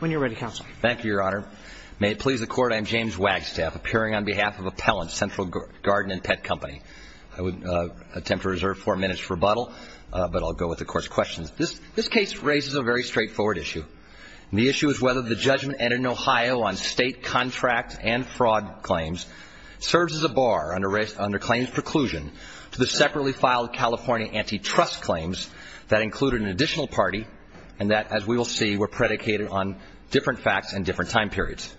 When you're ready, Counsel. Thank you, Your Honor. May it please the Court, I am James Wagstaff, appearing on behalf of Appellant Central Garden and Pet Company. I would attempt to reserve four minutes for rebuttal, but I'll go with the Court's questions. This case raises a very straightforward issue, and the issue is whether the judgment entered in Ohio on state contract and fraud claims serves as a bar under claims preclusion to the separately filed California antitrust claims that included an additional party and that, as we will see, were predicated on different facts and different time periods.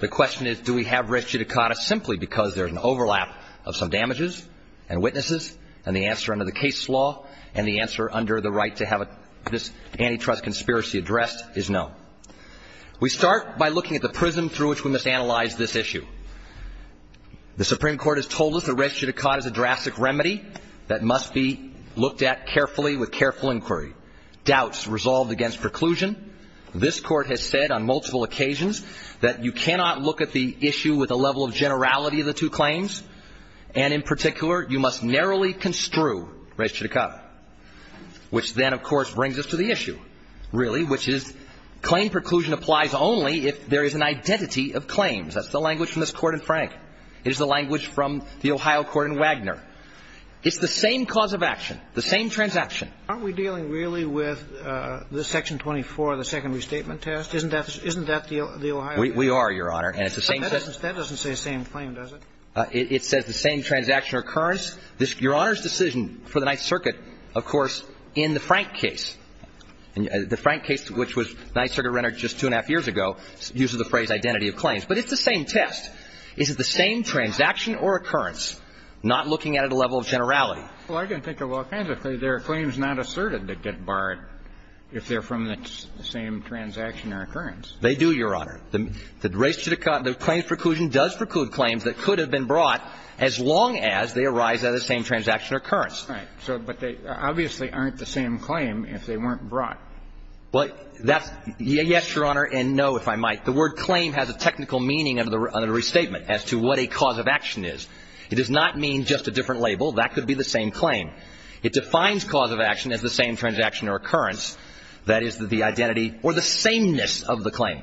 The question is, do we have res judicata simply because there's an overlap of some damages and witnesses, and the answer under the case law and the answer under the right to have this antitrust conspiracy addressed is no. We start by looking at the prism through which we must analyze this issue. The Supreme Court has told us that res judicata is a drastic remedy that must be looked at carefully with careful inquiry. Doubts resolved against preclusion. This Court has said on multiple occasions that you cannot look at the issue with a level of generality of the two claims, and in particular, you must narrowly construe res judicata, which then, of course, brings us to the issue, really, which is claim preclusion applies only if there is an identity of claims. That's the language from this Court in Frank. It is the language from the Ohio Court in Wagner. It's the same cause of action, the same transaction. Aren't we dealing really with this Section 24, the second restatement test? Isn't that the Ohio? We are, Your Honor. And it's the same case. That doesn't say same claim, does it? It says the same transaction or occurrence. Your Honor's decision for the Ninth Circuit, of course, in the Frank case, the Frank case, which was Ninth Circuit rendered just two and a half years ago, uses the phrase identity of claims. But it's the same test. Is it the same transaction or occurrence, not looking at it at a level of generality? Well, I can think of all kinds of things. There are claims not asserted that get barred if they're from the same transaction or occurrence. They do, Your Honor. The res judicata, the claims preclusion does preclude claims that could have been brought as long as they arise out of the same transaction or occurrence. Right. But they obviously aren't the same claim if they weren't brought. Well, that's yes, Your Honor, and no, if I might. The word claim has a technical meaning under the restatement as to what a cause of action is. It does not mean just a different label. That could be the same claim. It defines cause of action as the same transaction or occurrence, that is, the identity or the sameness of the claim.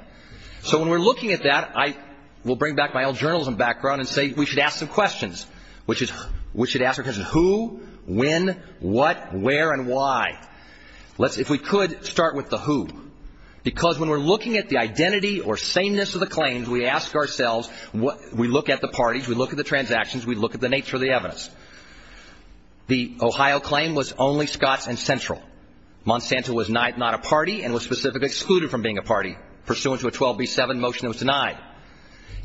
So when we're looking at that, I will bring back my old journalism background and say we should ask some questions. We should ask the question who, when, what, where, and why. If we could, start with the who. Because when we're looking at the identity or sameness of the claims, we ask ourselves, we look at the parties, we look at the transactions, we look at the nature of the evidence. The Ohio claim was only Scotts and Central. Monsanto was not a party and was specifically excluded from being a party pursuant to a 12b-7 motion that was denied.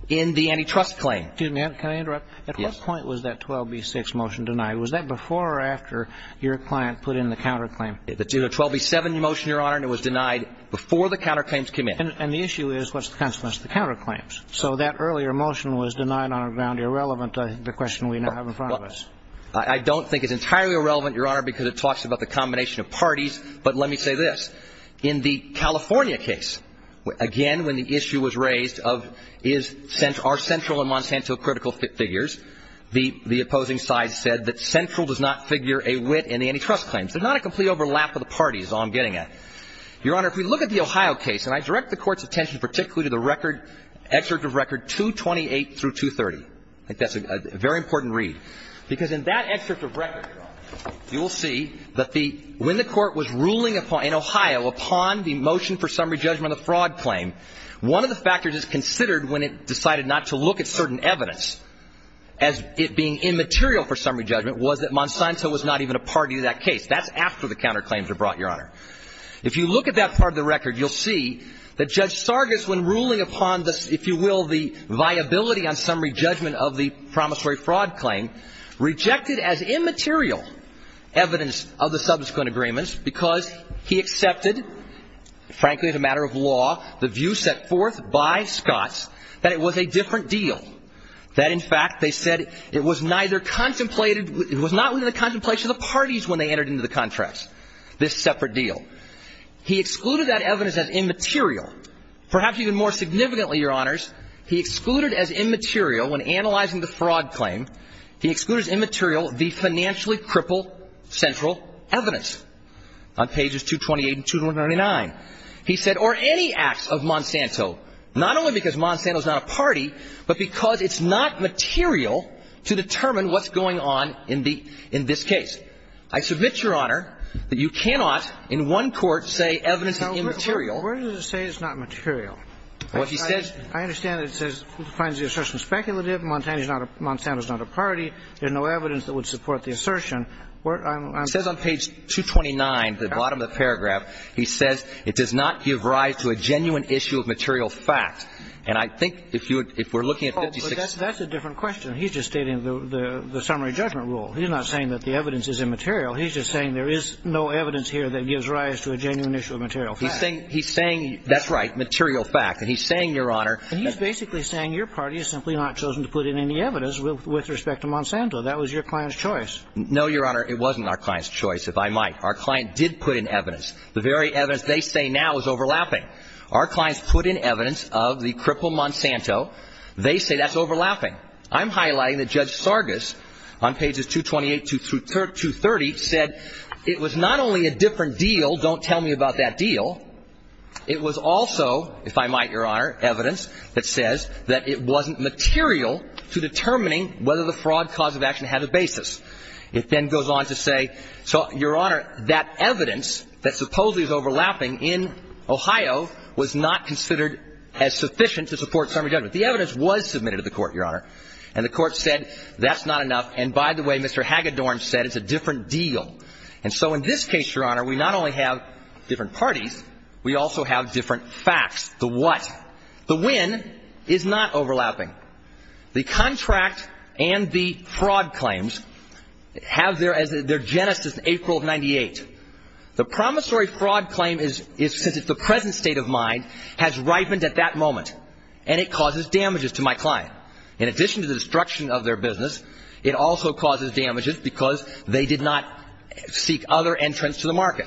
In the antitrust claim. Excuse me. Can I interrupt? Yes. At what point was that 12b-6 motion denied? Was that before or after your client put in the counterclaim? It was a 12b-7 motion, Your Honor, and it was denied before the counterclaims came in. And the issue is what's the consequence of the counterclaims? So that earlier motion was denied on the ground irrelevant to the question we now have in front of us. I don't think it's entirely irrelevant, Your Honor, because it talks about the combination of parties. But let me say this. In the California case, again, when the issue was raised of are Central and Monsanto critical figures, the opposing side said that Central does not figure a wit in the antitrust claims. They're not a complete overlap of the parties is all I'm getting at. Your Honor, if we look at the Ohio case, and I direct the Court's attention particularly to the record, excerpt of record 228 through 230. I think that's a very important read. Because in that excerpt of record, Your Honor, you will see that when the Court was ruling in Ohio upon the motion for summary judgment of the fraud claim, one of the factors that's considered when it decided not to look at certain evidence as it being immaterial for summary judgment was that Monsanto was not even a party to that case. That's after the counterclaims were brought, Your Honor. If you look at that part of the record, you'll see that Judge Sargis, when ruling upon the, if you will, the viability on summary judgment of the promissory fraud claim, rejected as immaterial evidence of the subsequent agreements because he accepted, frankly, as a matter of law, the view set forth by Scotts that it was a different deal. That, in fact, they said it was neither contemplated, it was not within the contemplation of the parties when they entered into the contracts, this separate deal. He excluded that evidence as immaterial. Perhaps even more significantly, Your Honors, he excluded as immaterial when analyzing the fraud claim, he excluded as immaterial the financially crippled central evidence on pages 228 and 299. He said, or any acts of Monsanto, not only because Monsanto is not a party, but because it's not material to determine what's going on in the, in this case. I submit, Your Honor, that you cannot in one court say evidence is immaterial. Where does it say it's not material? What he says – I understand that it says, defines the assertion speculative, Monsanto is not a party, there's no evidence that would support the assertion. I'm – It says on page 229, the bottom of the paragraph, he says it does not give rise to a genuine issue of material fact. And I think if you would, if we're looking at 56 – Oh, but that's a different question. He's just stating the summary judgment rule. He's not saying that the evidence is immaterial. He's just saying there is no evidence here that gives rise to a genuine issue of material fact. He's saying – that's right, material fact. And he's saying, Your Honor – And he's basically saying your party has simply not chosen to put in any evidence with respect to Monsanto. That was your client's choice. No, Your Honor, it wasn't our client's choice, if I might. Our client did put in evidence. The very evidence they say now is overlapping. Our clients put in evidence of the crippled Monsanto. They say that's overlapping. I'm highlighting that Judge Sargas, on pages 228 through 230, said it was not only a different deal, don't tell me about that deal. It was also, if I might, Your Honor, evidence that says that it wasn't material to determining whether the fraud cause of action had a basis. It then goes on to say, Your Honor, that evidence that supposedly is overlapping in Ohio was not considered as sufficient to support summary judgment. The evidence was submitted to the court, Your Honor, and the court said that's not enough. And by the way, Mr. Hagedorn said it's a different deal. And so in this case, Your Honor, we not only have different parties, we also have different facts. The what? The when is not overlapping. The contract and the fraud claims have their genesis in April of 98. The promissory fraud claim is the present state of mind has ripened at that moment, and it causes damages to my client. In addition to the destruction of their business, it also causes damages because they did not seek other entrance to the market.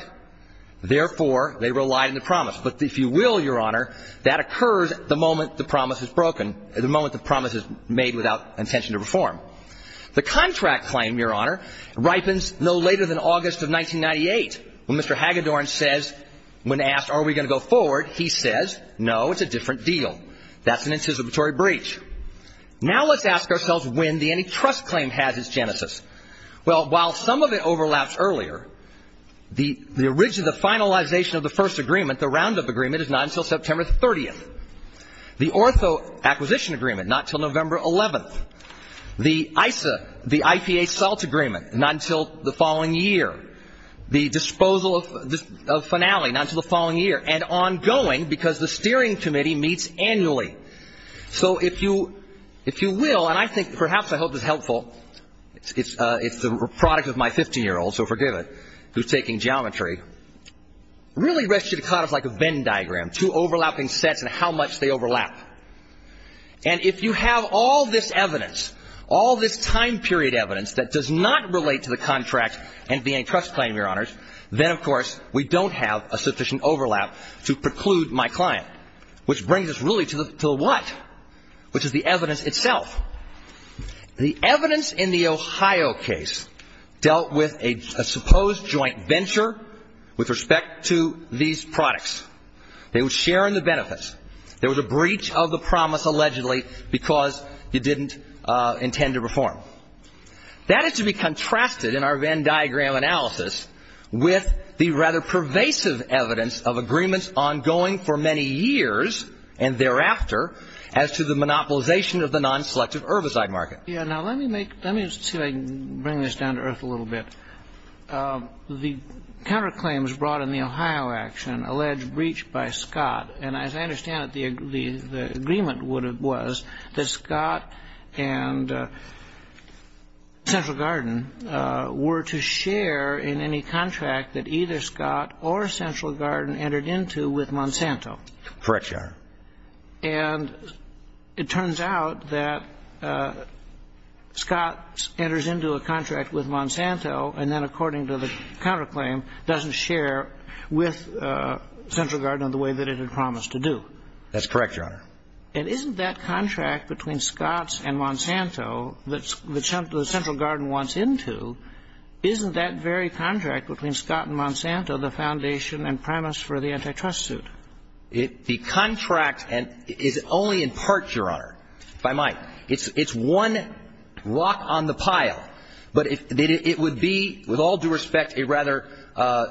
Therefore, they relied on the promise. But if you will, Your Honor, that occurs the moment the promise is broken, the moment the promise is made without intention to reform. The contract claim, Your Honor, ripens no later than August of 1998 when Mr. Hagedorn says, when asked are we going to go forward, he says, no, it's a different deal. That's an anticipatory breach. Now let's ask ourselves when the antitrust claim has its genesis. Well, while some of it overlaps earlier, the origin of the finalization of the first agreement, the roundup agreement, is not until September 30th. The ortho acquisition agreement, not until November 11th. The ISA, the IPA SALT agreement, not until the following year. The disposal of finale, not until the following year. And ongoing because the steering committee meets annually. So if you will, and I think perhaps I hope this is helpful. It's the product of my 15-year-old, so forgive it, who's taking geometry. Really res judicata is like a Venn diagram, two overlapping sets and how much they overlap. And if you have all this evidence, all this time period evidence that does not relate to the contract and antitrust claim, Your Honors, then of course we don't have a sufficient overlap to preclude my client. Which brings us really to the what? Which is the evidence itself. The evidence in the Ohio case dealt with a supposed joint venture with respect to these products. They were sharing the benefits. There was a breach of the promise allegedly because you didn't intend to reform. That is to be contrasted in our Venn diagram analysis with the rather pervasive evidence of agreements ongoing for many years and thereafter as to the monopolization of the nonselective herbicide market. Yeah, now let me make, let me see if I can bring this down to earth a little bit. The counterclaims brought in the Ohio action allege breach by Scott. And as I understand it, the agreement was that Scott and Central Garden were to share in any contract that either Scott or Central Garden entered into with Monsanto. Correct, Your Honor. And it turns out that Scott enters into a contract with Monsanto and then according to the counterclaim doesn't share with Central Garden in the way that it had promised to do. That's correct, Your Honor. And isn't that contract between Scott and Monsanto that Central Garden wants into, isn't that very contract between Scott and Monsanto the foundation and premise for the antitrust suit? The contract is only in part, Your Honor, if I might. It's one rock on the pile. But it would be, with all due respect, a rather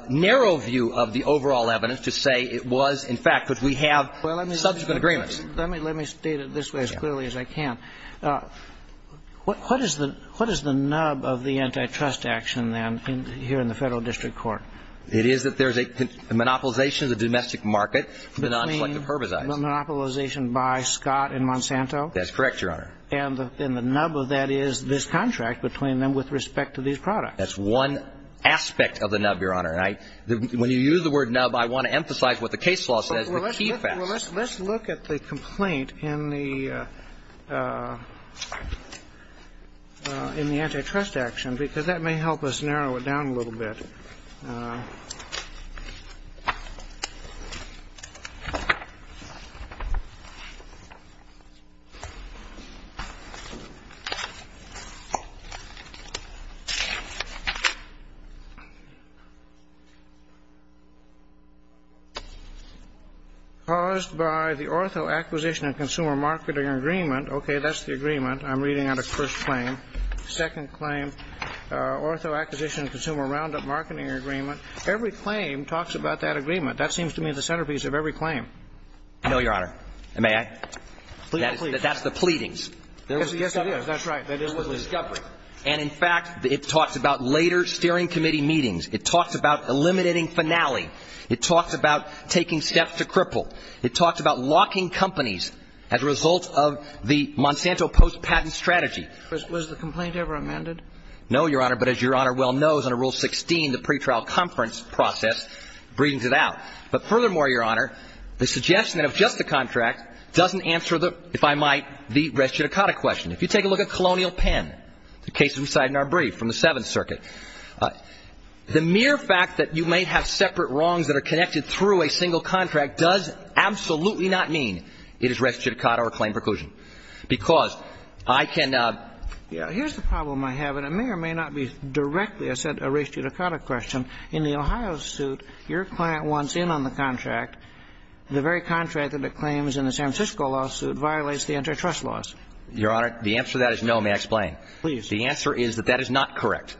narrow view of the overall evidence to say it was, in fact, because we have subsequent agreements. Well, let me state it this way as clearly as I can. What is the nub of the antitrust action then here in the Federal District Court? It is that there's a monopolization of the domestic market for the nonselective herbicides. Between the monopolization by Scott and Monsanto? That's correct, Your Honor. And the nub of that is this contract between them with respect to these products. That's one aspect of the nub, Your Honor. When you use the word nub, I want to emphasize what the case law says, the key facts. Let's look at the complaint in the antitrust action because that may help us narrow it down a little bit. Caused by the ortho acquisition and consumer marketing agreement. Okay, that's the agreement. I'm reading out a first claim. Second claim. Ortho acquisition and consumer roundup marketing agreement. Every claim talks about that agreement. That seems to me the centerpiece of every claim. No, Your Honor. May I? That's the pleadings. Yes, it is. That's right. It was a discovery. And, in fact, it talks about later steering committee meetings. It talks about eliminating Finale. It talks about taking steps to cripple. It talks about locking companies as a result of the Monsanto post-patent strategy. Right, but Knows of press contracting countries and saying, Do you have a prescription We read it out because the compliance stops at Section 58, Res Judicata. Okay. Was the complaint ever amended? No, Your Honor, but as Your Honor well knows under Rule 16, the pretrial conference process sends it out. But furthermore, Your Honor, the suggestion of just the contract doesn't answer, if I might, the Res Judicata question. If you take a look at Colonial Pen, the case we cited in our brief from the Seventh Circuit, the mere fact that you may have separate wrongs that are connected through a single contract does absolutely not mean it is Res Judicata or claim preclusion. Because I can Here's the problem I have, and it may or may not be directly, I said, a Res Judicata question. In the Ohio suit, your client wants in on the contract. The very contract that it claims in the San Francisco lawsuit violates the intertrust laws. Your Honor, the answer to that is no. May I explain? Please. The answer is that that is not correct.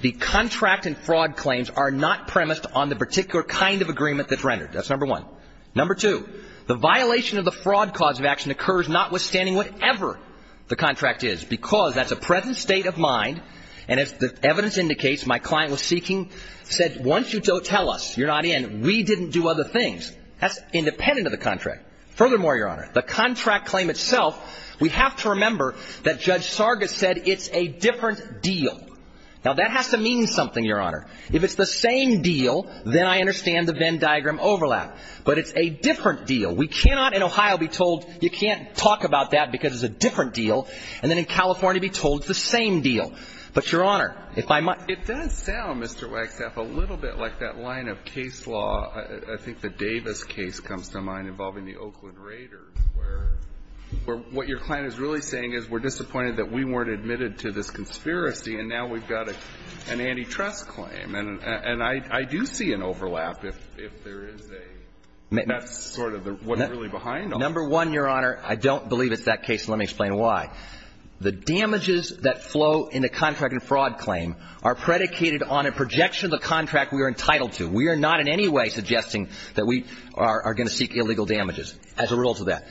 The contract and fraud claims are not premised on the particular kind of agreement that's rendered. That's number one. Number two, the violation of the fraud cause of action occurs notwithstanding whatever the contract is, because that's a present state of mind, and as the evidence indicates, my client was seeking, said, once you tell us you're not in, we didn't do other things. That's independent of the contract. Furthermore, Your Honor, the contract claim itself, we have to remember that Judge Sargis said it's a different deal. Now, that has to mean something, Your Honor. If it's the same deal, then I understand the Venn diagram overlap. But it's a different deal. We cannot in Ohio be told you can't talk about that because it's a different deal. And then in California be told it's the same deal. But, Your Honor, if I might ---- It does sound, Mr. Wagstaff, a little bit like that line of case law, I think the Davis case comes to mind, involving the Oakland Raiders, where what your client is really saying is we're disappointed that we weren't admitted to this conspiracy, and now we've got an antitrust claim. And I do see an overlap if there is a ---- that's sort of what's really behind all this. Number one, Your Honor, I don't believe it's that case. Let me explain why. The damages that flow in a contract and fraud claim are predicated on a projection of the contract we are entitled to. We are not in any way suggesting that we are going to seek illegal damages as a result of that.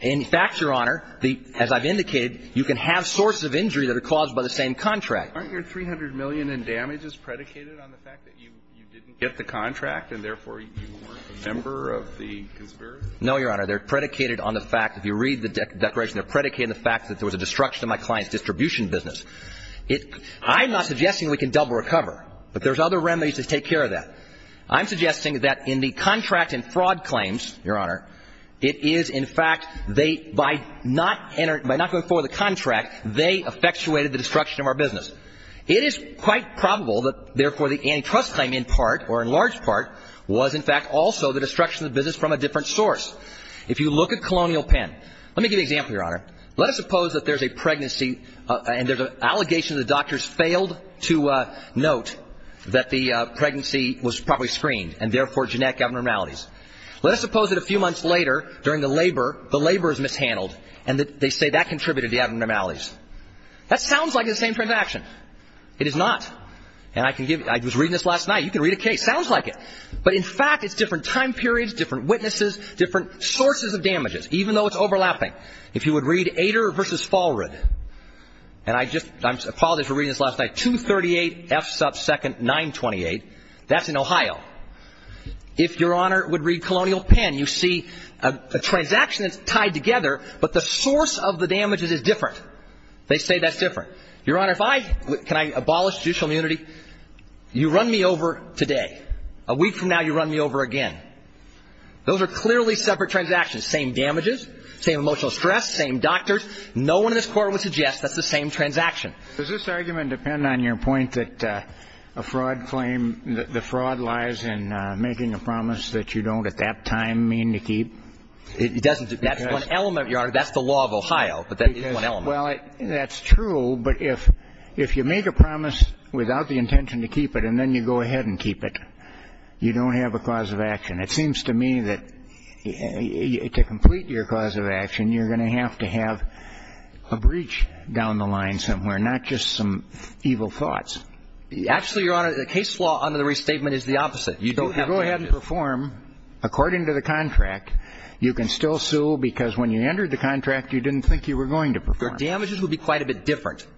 In fact, Your Honor, as I've indicated, you can have sources of injury that are caused by the same contract. Aren't your $300 million in damages predicated on the fact that you didn't get the contract and, therefore, you weren't a member of the conspiracy? Your Honor, they're predicated on the fact, if you read the declaration, they're predicated on the fact that there was a destruction of my client's distribution business. I'm not suggesting we can double recover, but there's other remedies to take care of that. I'm suggesting that in the contract and fraud claims, Your Honor, it is, in fact, they, by not going forward with the contract, they effectuated the destruction of our business. It is quite probable that, therefore, the antitrust claim in part or in large part was, in fact, also the destruction of the business from a different source. If you look at Colonial Penn, let me give you an example, Your Honor. Let us suppose that there's a pregnancy and there's an allegation the doctors failed to note that the pregnancy was probably screened and, therefore, genetic abnormalities. Let us suppose that a few months later, during the labor, the labor is mishandled and that they say that contributed to the abnormalities. That sounds like the same transaction. It is not. And I can give you, I was reading this last night, you can read a case. Sounds like it. But, in fact, it's different time periods, different witnesses, different sources of damages, even though it's overlapping. If you would read Ader v. Fallred, and I just, I apologize for reading this last night, 238 F sub 2nd 928, that's in Ohio. If Your Honor would read Colonial Penn, you see a transaction that's tied together, but the source of the damages is different. They say that's different. Your Honor, if I, can I abolish judicial immunity? You run me over today. A week from now, you run me over again. Those are clearly separate transactions. Same damages, same emotional stress, same doctors. No one in this Court would suggest that's the same transaction. Does this argument depend on your point that a fraud claim, the fraud lies in making a promise that you don't at that time mean to keep? It doesn't. That's one element, Your Honor. That's the law of Ohio, but that is one element. Well, that's true, but if you make a promise without the intention to keep it and then you go ahead and keep it, you don't have a cause of action. It seems to me that to complete your cause of action, you're going to have to have a breach down the line somewhere, not just some evil thoughts. Actually, Your Honor, the case law under the restatement is the opposite. You don't have to. If you go ahead and perform according to the contract, you can still sue because when you entered the contract, you didn't think you were going to perform. Your damages would be quite a bit different. It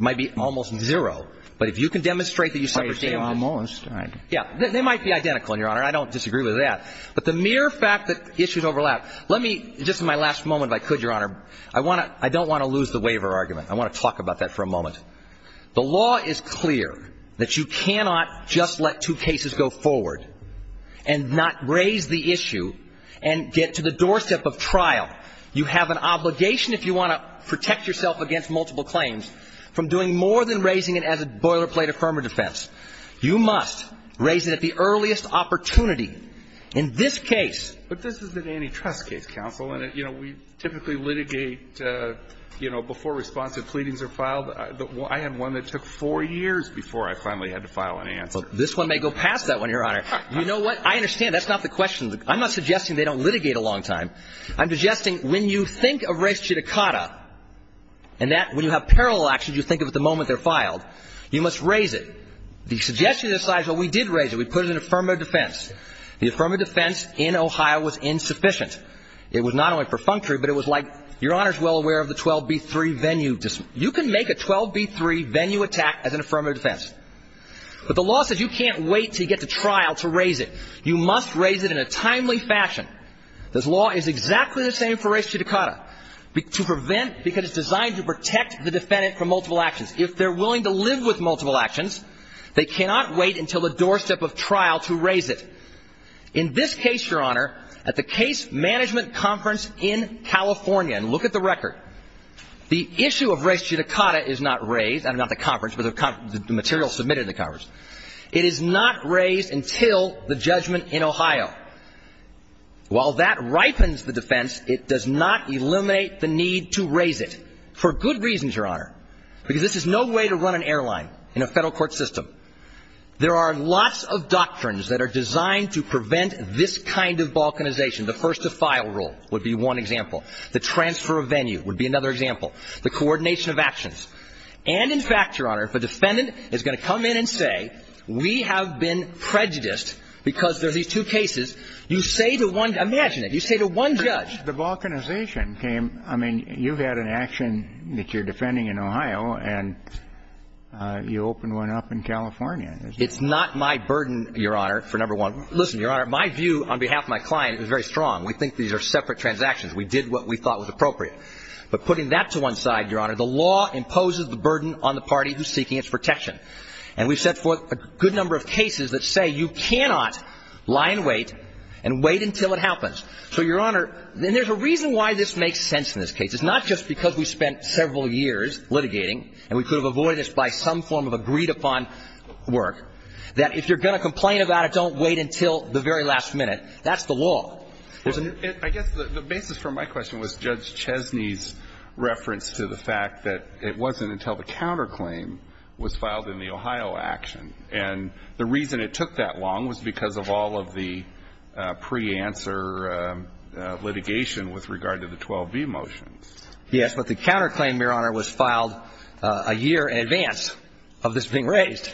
might be almost zero, but if you can demonstrate that you suffered damages. Almost. Yeah. They might be identical, Your Honor. I don't disagree with that. But the mere fact that issues overlap. Let me, just in my last moment if I could, Your Honor, I don't want to lose the waiver argument. I want to talk about that for a moment. The law is clear that you cannot just let two cases go forward and not raise the issue and get to the doorstep of trial. You have an obligation if you want to protect yourself against multiple claims from doing more than raising it as a boilerplate affirmative defense. You must raise it at the earliest opportunity. In this case. But this is an antitrust case, counsel, and, you know, we typically litigate, you know, before responsive pleadings are filed. I had one that took four years before I finally had to file an answer. This one may go past that one, Your Honor. You know what? I understand. That's not the question. I'm not suggesting they don't litigate a long time. I'm suggesting when you think of res judicata, and that when you have parallel actions you think of at the moment they're filed, you must raise it. The suggestion at this time is, well, we did raise it. We put it in affirmative defense. The affirmative defense in Ohio was insufficient. It was not only for functory, but it was like, Your Honor is well aware of the 12B3 venue. You can make a 12B3 venue attack as an affirmative defense. But the law says you can't wait until you get to trial to raise it. You must raise it in a timely fashion. This law is exactly the same for res judicata, to prevent, because it's designed to protect the defendant from multiple actions. If they're willing to live with multiple actions, they cannot wait until the doorstep of trial to raise it. In this case, Your Honor, at the case management conference in California, and look at the record, the issue of res judicata is not raised. I mean, not the conference, but the material submitted in the conference. While that ripens the defense, it does not eliminate the need to raise it. For good reasons, Your Honor, because this is no way to run an airline in a federal court system. There are lots of doctrines that are designed to prevent this kind of balkanization. The first to file rule would be one example. The transfer of venue would be another example. The coordination of actions. And, in fact, Your Honor, if a defendant is going to come in and say, we have been prejudiced because there are these two cases, you say to one, imagine it, you say to one judge. The balkanization came, I mean, you've had an action that you're defending in Ohio, and you opened one up in California. It's not my burden, Your Honor, for number one. Listen, Your Honor, my view on behalf of my client is very strong. We think these are separate transactions. We did what we thought was appropriate. But putting that to one side, Your Honor, the law imposes the burden on the party who's seeking its protection. And we've set forth a good number of cases that say you cannot lie in wait and wait until it happens. So, Your Honor, and there's a reason why this makes sense in this case. It's not just because we spent several years litigating, and we could have avoided this by some form of agreed-upon work, that if you're going to complain about it, don't wait until the very last minute. That's the law. I guess the basis for my question was Judge Chesney's reference to the fact that it wasn't until the counterclaim was filed in the Ohio action. And the reason it took that long was because of all of the pre-answer litigation with regard to the 12b motions. Yes, but the counterclaim, Your Honor, was filed a year in advance of this being raised.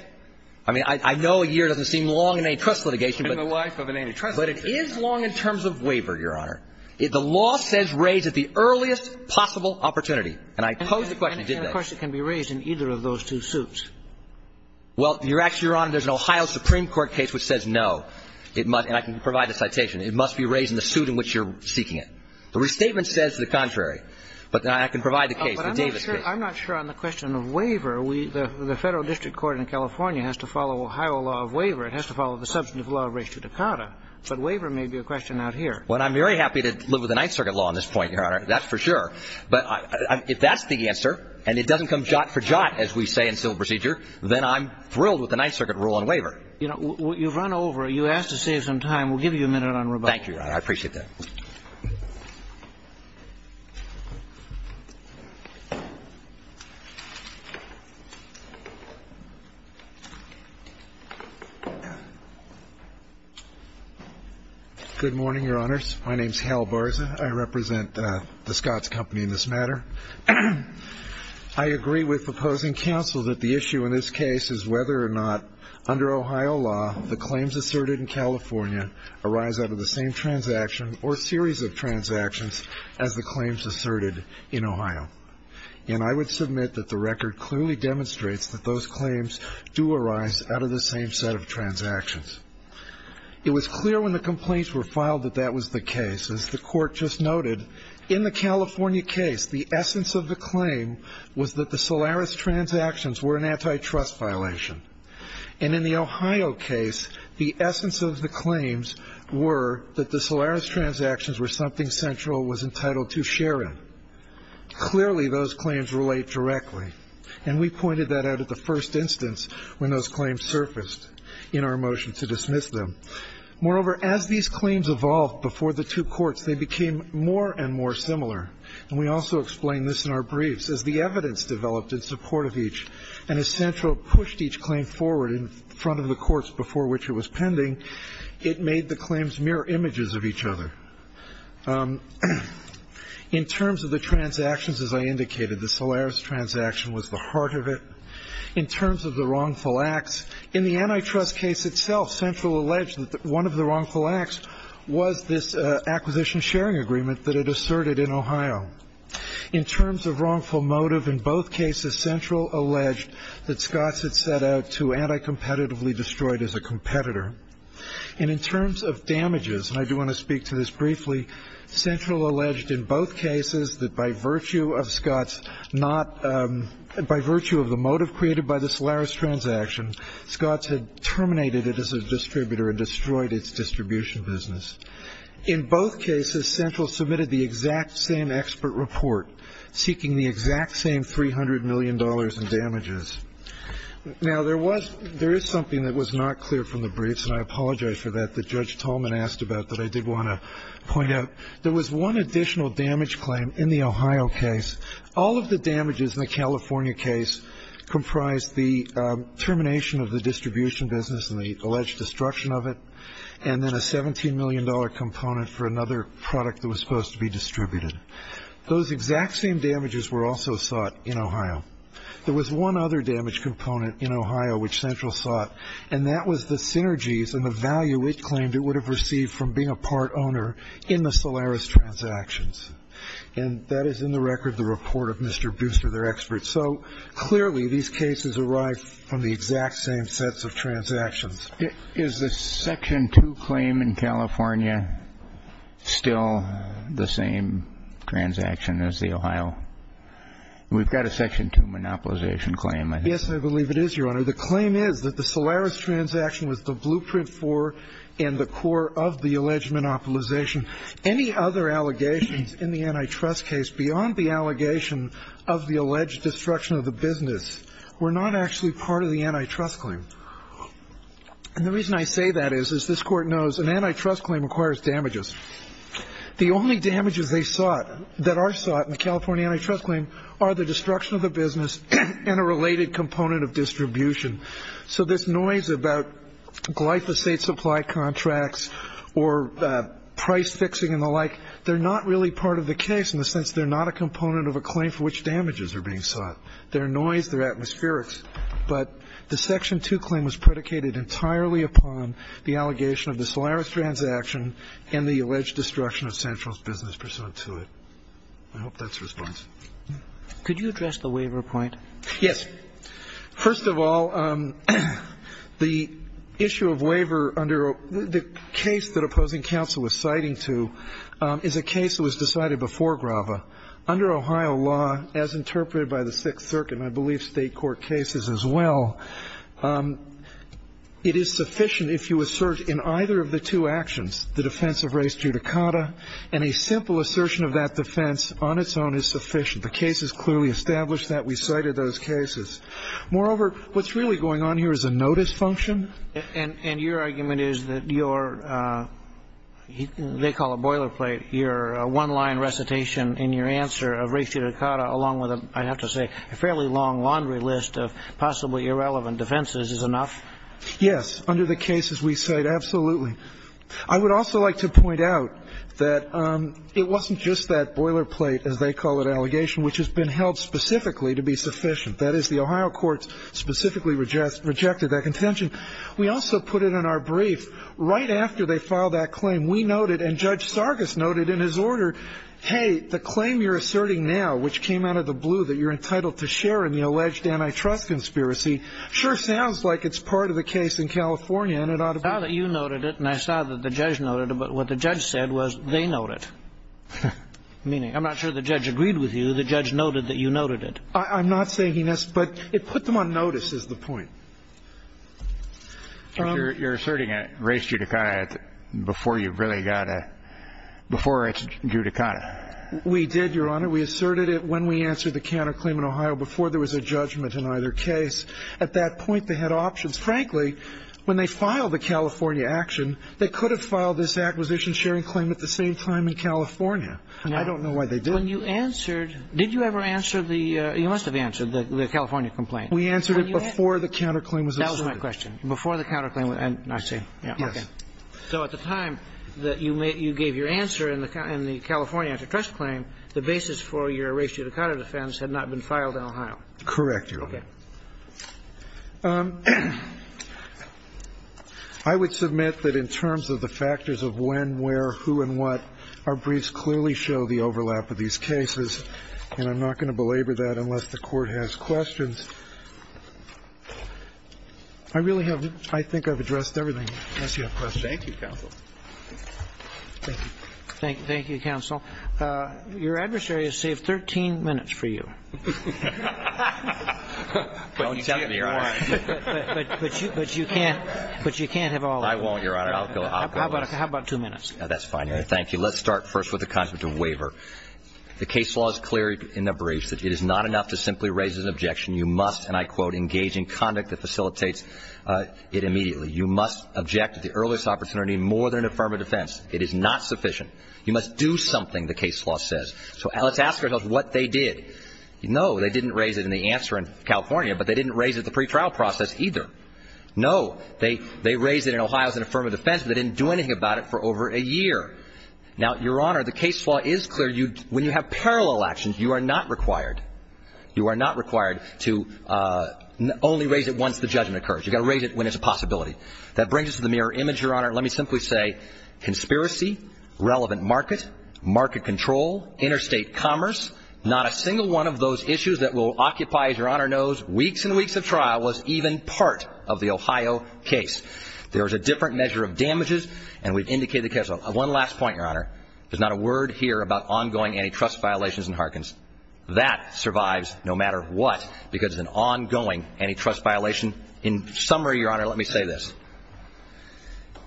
I mean, I know a year doesn't seem long in antitrust litigation. But it is long in terms of waiver, Your Honor. The law says raise at the earliest possible opportunity. And I posed the question, didn't I? And, of course, it can be raised in either of those two suits. Well, actually, Your Honor, there's an Ohio Supreme Court case which says no. And I can provide the citation. It must be raised in the suit in which you're seeking it. The restatement says the contrary. But I can provide the case, the Davis case. I'm not sure on the question of waiver. The Federal District Court in California has to follow Ohio law of waiver. It has to follow the substantive law of ratio decada. But waiver may be a question out here. Well, I'm very happy to live with the Ninth Circuit law on this point, Your Honor. That's for sure. But if that's the answer and it doesn't come jot for jot, as we say in civil procedure, then I'm thrilled with the Ninth Circuit rule on waiver. You know, you've run over. You asked to save some time. We'll give you a minute on rebuttal. Thank you, Your Honor. Good morning, Your Honors. My name is Hal Barza. I represent the Scotts Company in this matter. I agree with opposing counsel that the issue in this case is whether or not, under Ohio law, the claims asserted in California arise out of the same transaction or series of transactions as the claims asserted in Ohio. And I would submit that the record clearly demonstrates that those claims do arise out of the same set of transactions. It was clear when the complaints were filed that that was the case. As the Court just noted, in the California case, the essence of the claim was that the Solaris transactions were an antitrust violation. And in the Ohio case, the essence of the claims were that the Solaris transactions were something Central was entitled to share in. Clearly, those claims relate directly. And we pointed that out at the first instance when those claims surfaced in our motion to dismiss them. Moreover, as these claims evolved before the two courts, they became more and more similar. And we also explained this in our briefs. As the evidence developed in support of each, and as Central pushed each claim forward in front of the courts before which it was pending, it made the claims mirror images of each other. In terms of the transactions, as I indicated, the Solaris transaction was the heart of it. In terms of the wrongful acts, in the antitrust case itself, Central alleged that one of the wrongful acts was this acquisition-sharing agreement that it asserted in Ohio. In terms of wrongful motive, in both cases, Central alleged that Scotts had set out to anti-competitively destroy it as a competitor. And in terms of damages, and I do want to speak to this briefly, Central alleged in both cases that by virtue of the motive created by the Solaris transaction, Scotts had terminated it as a distributor and destroyed its distribution business. In both cases, Central submitted the exact same expert report, seeking the exact same $300 million in damages. Now, there is something that was not clear from the briefs, and I apologize for that, that Judge Tolman asked about that I did want to point out. There was one additional damage claim in the Ohio case. All of the damages in the California case comprised the termination of the distribution business and the alleged destruction of it, and then a $17 million component for another product that was supposed to be distributed. Those exact same damages were also sought in Ohio. There was one other damage component in Ohio which Central sought, and that was the synergies and the value it claimed it would have received from being a part owner in the Solaris transactions. And that is in the record, the report of Mr. Booster, their expert. So clearly, these cases arrived from the exact same sets of transactions. Is the Section 2 claim in California still the same transaction as the Ohio? We've got a Section 2 monopolization claim. Yes, I believe it is, Your Honor. The claim is that the Solaris transaction was the blueprint for and the core of the alleged monopolization. Any other allegations in the antitrust case beyond the allegation of the alleged destruction of the business were not actually part of the antitrust claim. And the reason I say that is, as this Court knows, an antitrust claim requires damages. The only damages they sought, that are sought in a California antitrust claim, are the destruction of the business and a related component of distribution. So this noise about glyphosate supply contracts or price fixing and the like, they're not really part of the case in the sense they're not a component of a claim for which damages are being sought. They're noise, they're atmospherics. But the Section 2 claim was predicated entirely upon the allegation of the Solaris transaction and the alleged destruction of Central's business pursuant to it. I hope that's your response. Could you address the waiver point? Yes. Okay. First of all, the issue of waiver under the case that opposing counsel was citing to is a case that was decided before Grava. Under Ohio law, as interpreted by the Sixth Circuit and I believe State court cases as well, it is sufficient if you assert in either of the two actions the defense of race judicata and a simple assertion of that defense on its own is sufficient. The case is clearly established that we cited those cases. Moreover, what's really going on here is a notice function. And your argument is that your, they call it boilerplate, your one-line recitation in your answer of race judicata along with, I have to say, a fairly long laundry list of possibly irrelevant defenses is enough? Yes. Under the cases we cite, absolutely. I would also like to point out that it wasn't just that boilerplate, as they call it, allegation which has been held specifically to be sufficient. That is, the Ohio courts specifically rejected that contention. We also put it in our brief right after they filed that claim. We noted and Judge Sargas noted in his order, hey, the claim you're asserting now, which came out of the blue that you're entitled to share in the alleged antitrust conspiracy, sure sounds like it's part of the case in California and it ought to be. I saw that you noted it and I saw that the judge noted it, but what the judge said was they note it. Meaning, I'm not sure the judge agreed with you. The judge noted that you noted it. I'm not saying he missed, but it put them on notice is the point. You're asserting a race judicata before you really got a, before it's judicata. We did, Your Honor. We asserted it when we answered the counterclaim in Ohio before there was a judgment in either case. At that point, they had options. Frankly, when they filed the California action, they could have filed this acquisition sharing claim at the same time in California. I don't know why they didn't. When you answered, did you ever answer the, you must have answered the California complaint. We answered it before the counterclaim was asserted. That was my question. Before the counterclaim was, I see. Yes. So at the time that you gave your answer in the California antitrust claim, the basis for your race judicata defense had not been filed in Ohio. Correct, Your Honor. Okay. I would submit that in terms of the factors of when, where, who and what, our briefs clearly show the overlap of these cases. And I'm not going to belabor that unless the Court has questions. I really have, I think I've addressed everything. Unless you have questions. Thank you, counsel. Thank you. Thank you, counsel. Your adversary has saved 13 minutes for you. But you can't have all of them. I won't, Your Honor. I'll go last. How about two minutes? That's fine, Your Honor. Thank you. Let's start first with the concept of waiver. The case law is clear in the briefs that it is not enough to simply raise an objection. You must, and I quote, engage in conduct that facilitates it immediately. You must object at the earliest opportunity more than affirm a defense. It is not sufficient. You must do something, the case law says. So let's ask ourselves what they did. No, they didn't raise it in the answer in California. But they didn't raise it in the pretrial process either. No, they raised it in Ohio as an affirmative defense. But they didn't do anything about it for over a year. Now, Your Honor, the case law is clear. When you have parallel actions, you are not required. You are not required to only raise it once the judgment occurs. You've got to raise it when it's a possibility. That brings us to the mirror image, Your Honor. Let me simply say conspiracy, relevant market, market control, interstate commerce, not a single one of those issues that will occupy, as Your Honor knows, weeks and weeks of trial was even part of the Ohio case. There was a different measure of damages, and we've indicated the case law. One last point, Your Honor. There's not a word here about ongoing antitrust violations in Harkins. That survives no matter what because it's an ongoing antitrust violation. In summary, Your Honor, let me say this.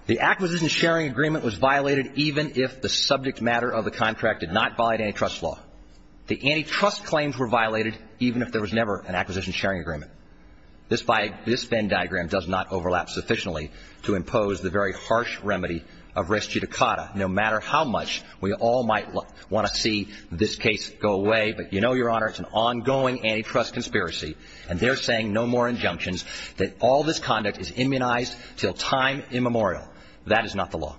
The acquisition sharing agreement was violated even if the subject matter of the antitrust claims were violated even if there was never an acquisition sharing agreement. This Venn diagram does not overlap sufficiently to impose the very harsh remedy of res judicata. No matter how much we all might want to see this case go away, but you know, Your Honor, it's an ongoing antitrust conspiracy, and they're saying no more injunctions, that all this conduct is immunized until time immemorial. That is not the law.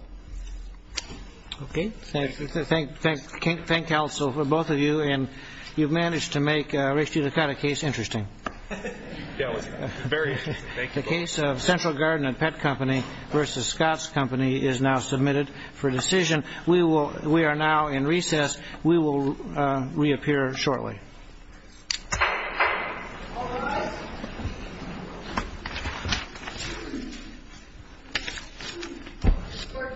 Okay. Thank you. Thank you, counsel, for both of you, and you've managed to make res judicata case interesting. Yeah, it was very interesting. The case of Central Garden and Pet Company v. Scott's Company is now submitted for decision. We are now in recess. We will reappear shortly. All rise. Court is in recess and adjourned.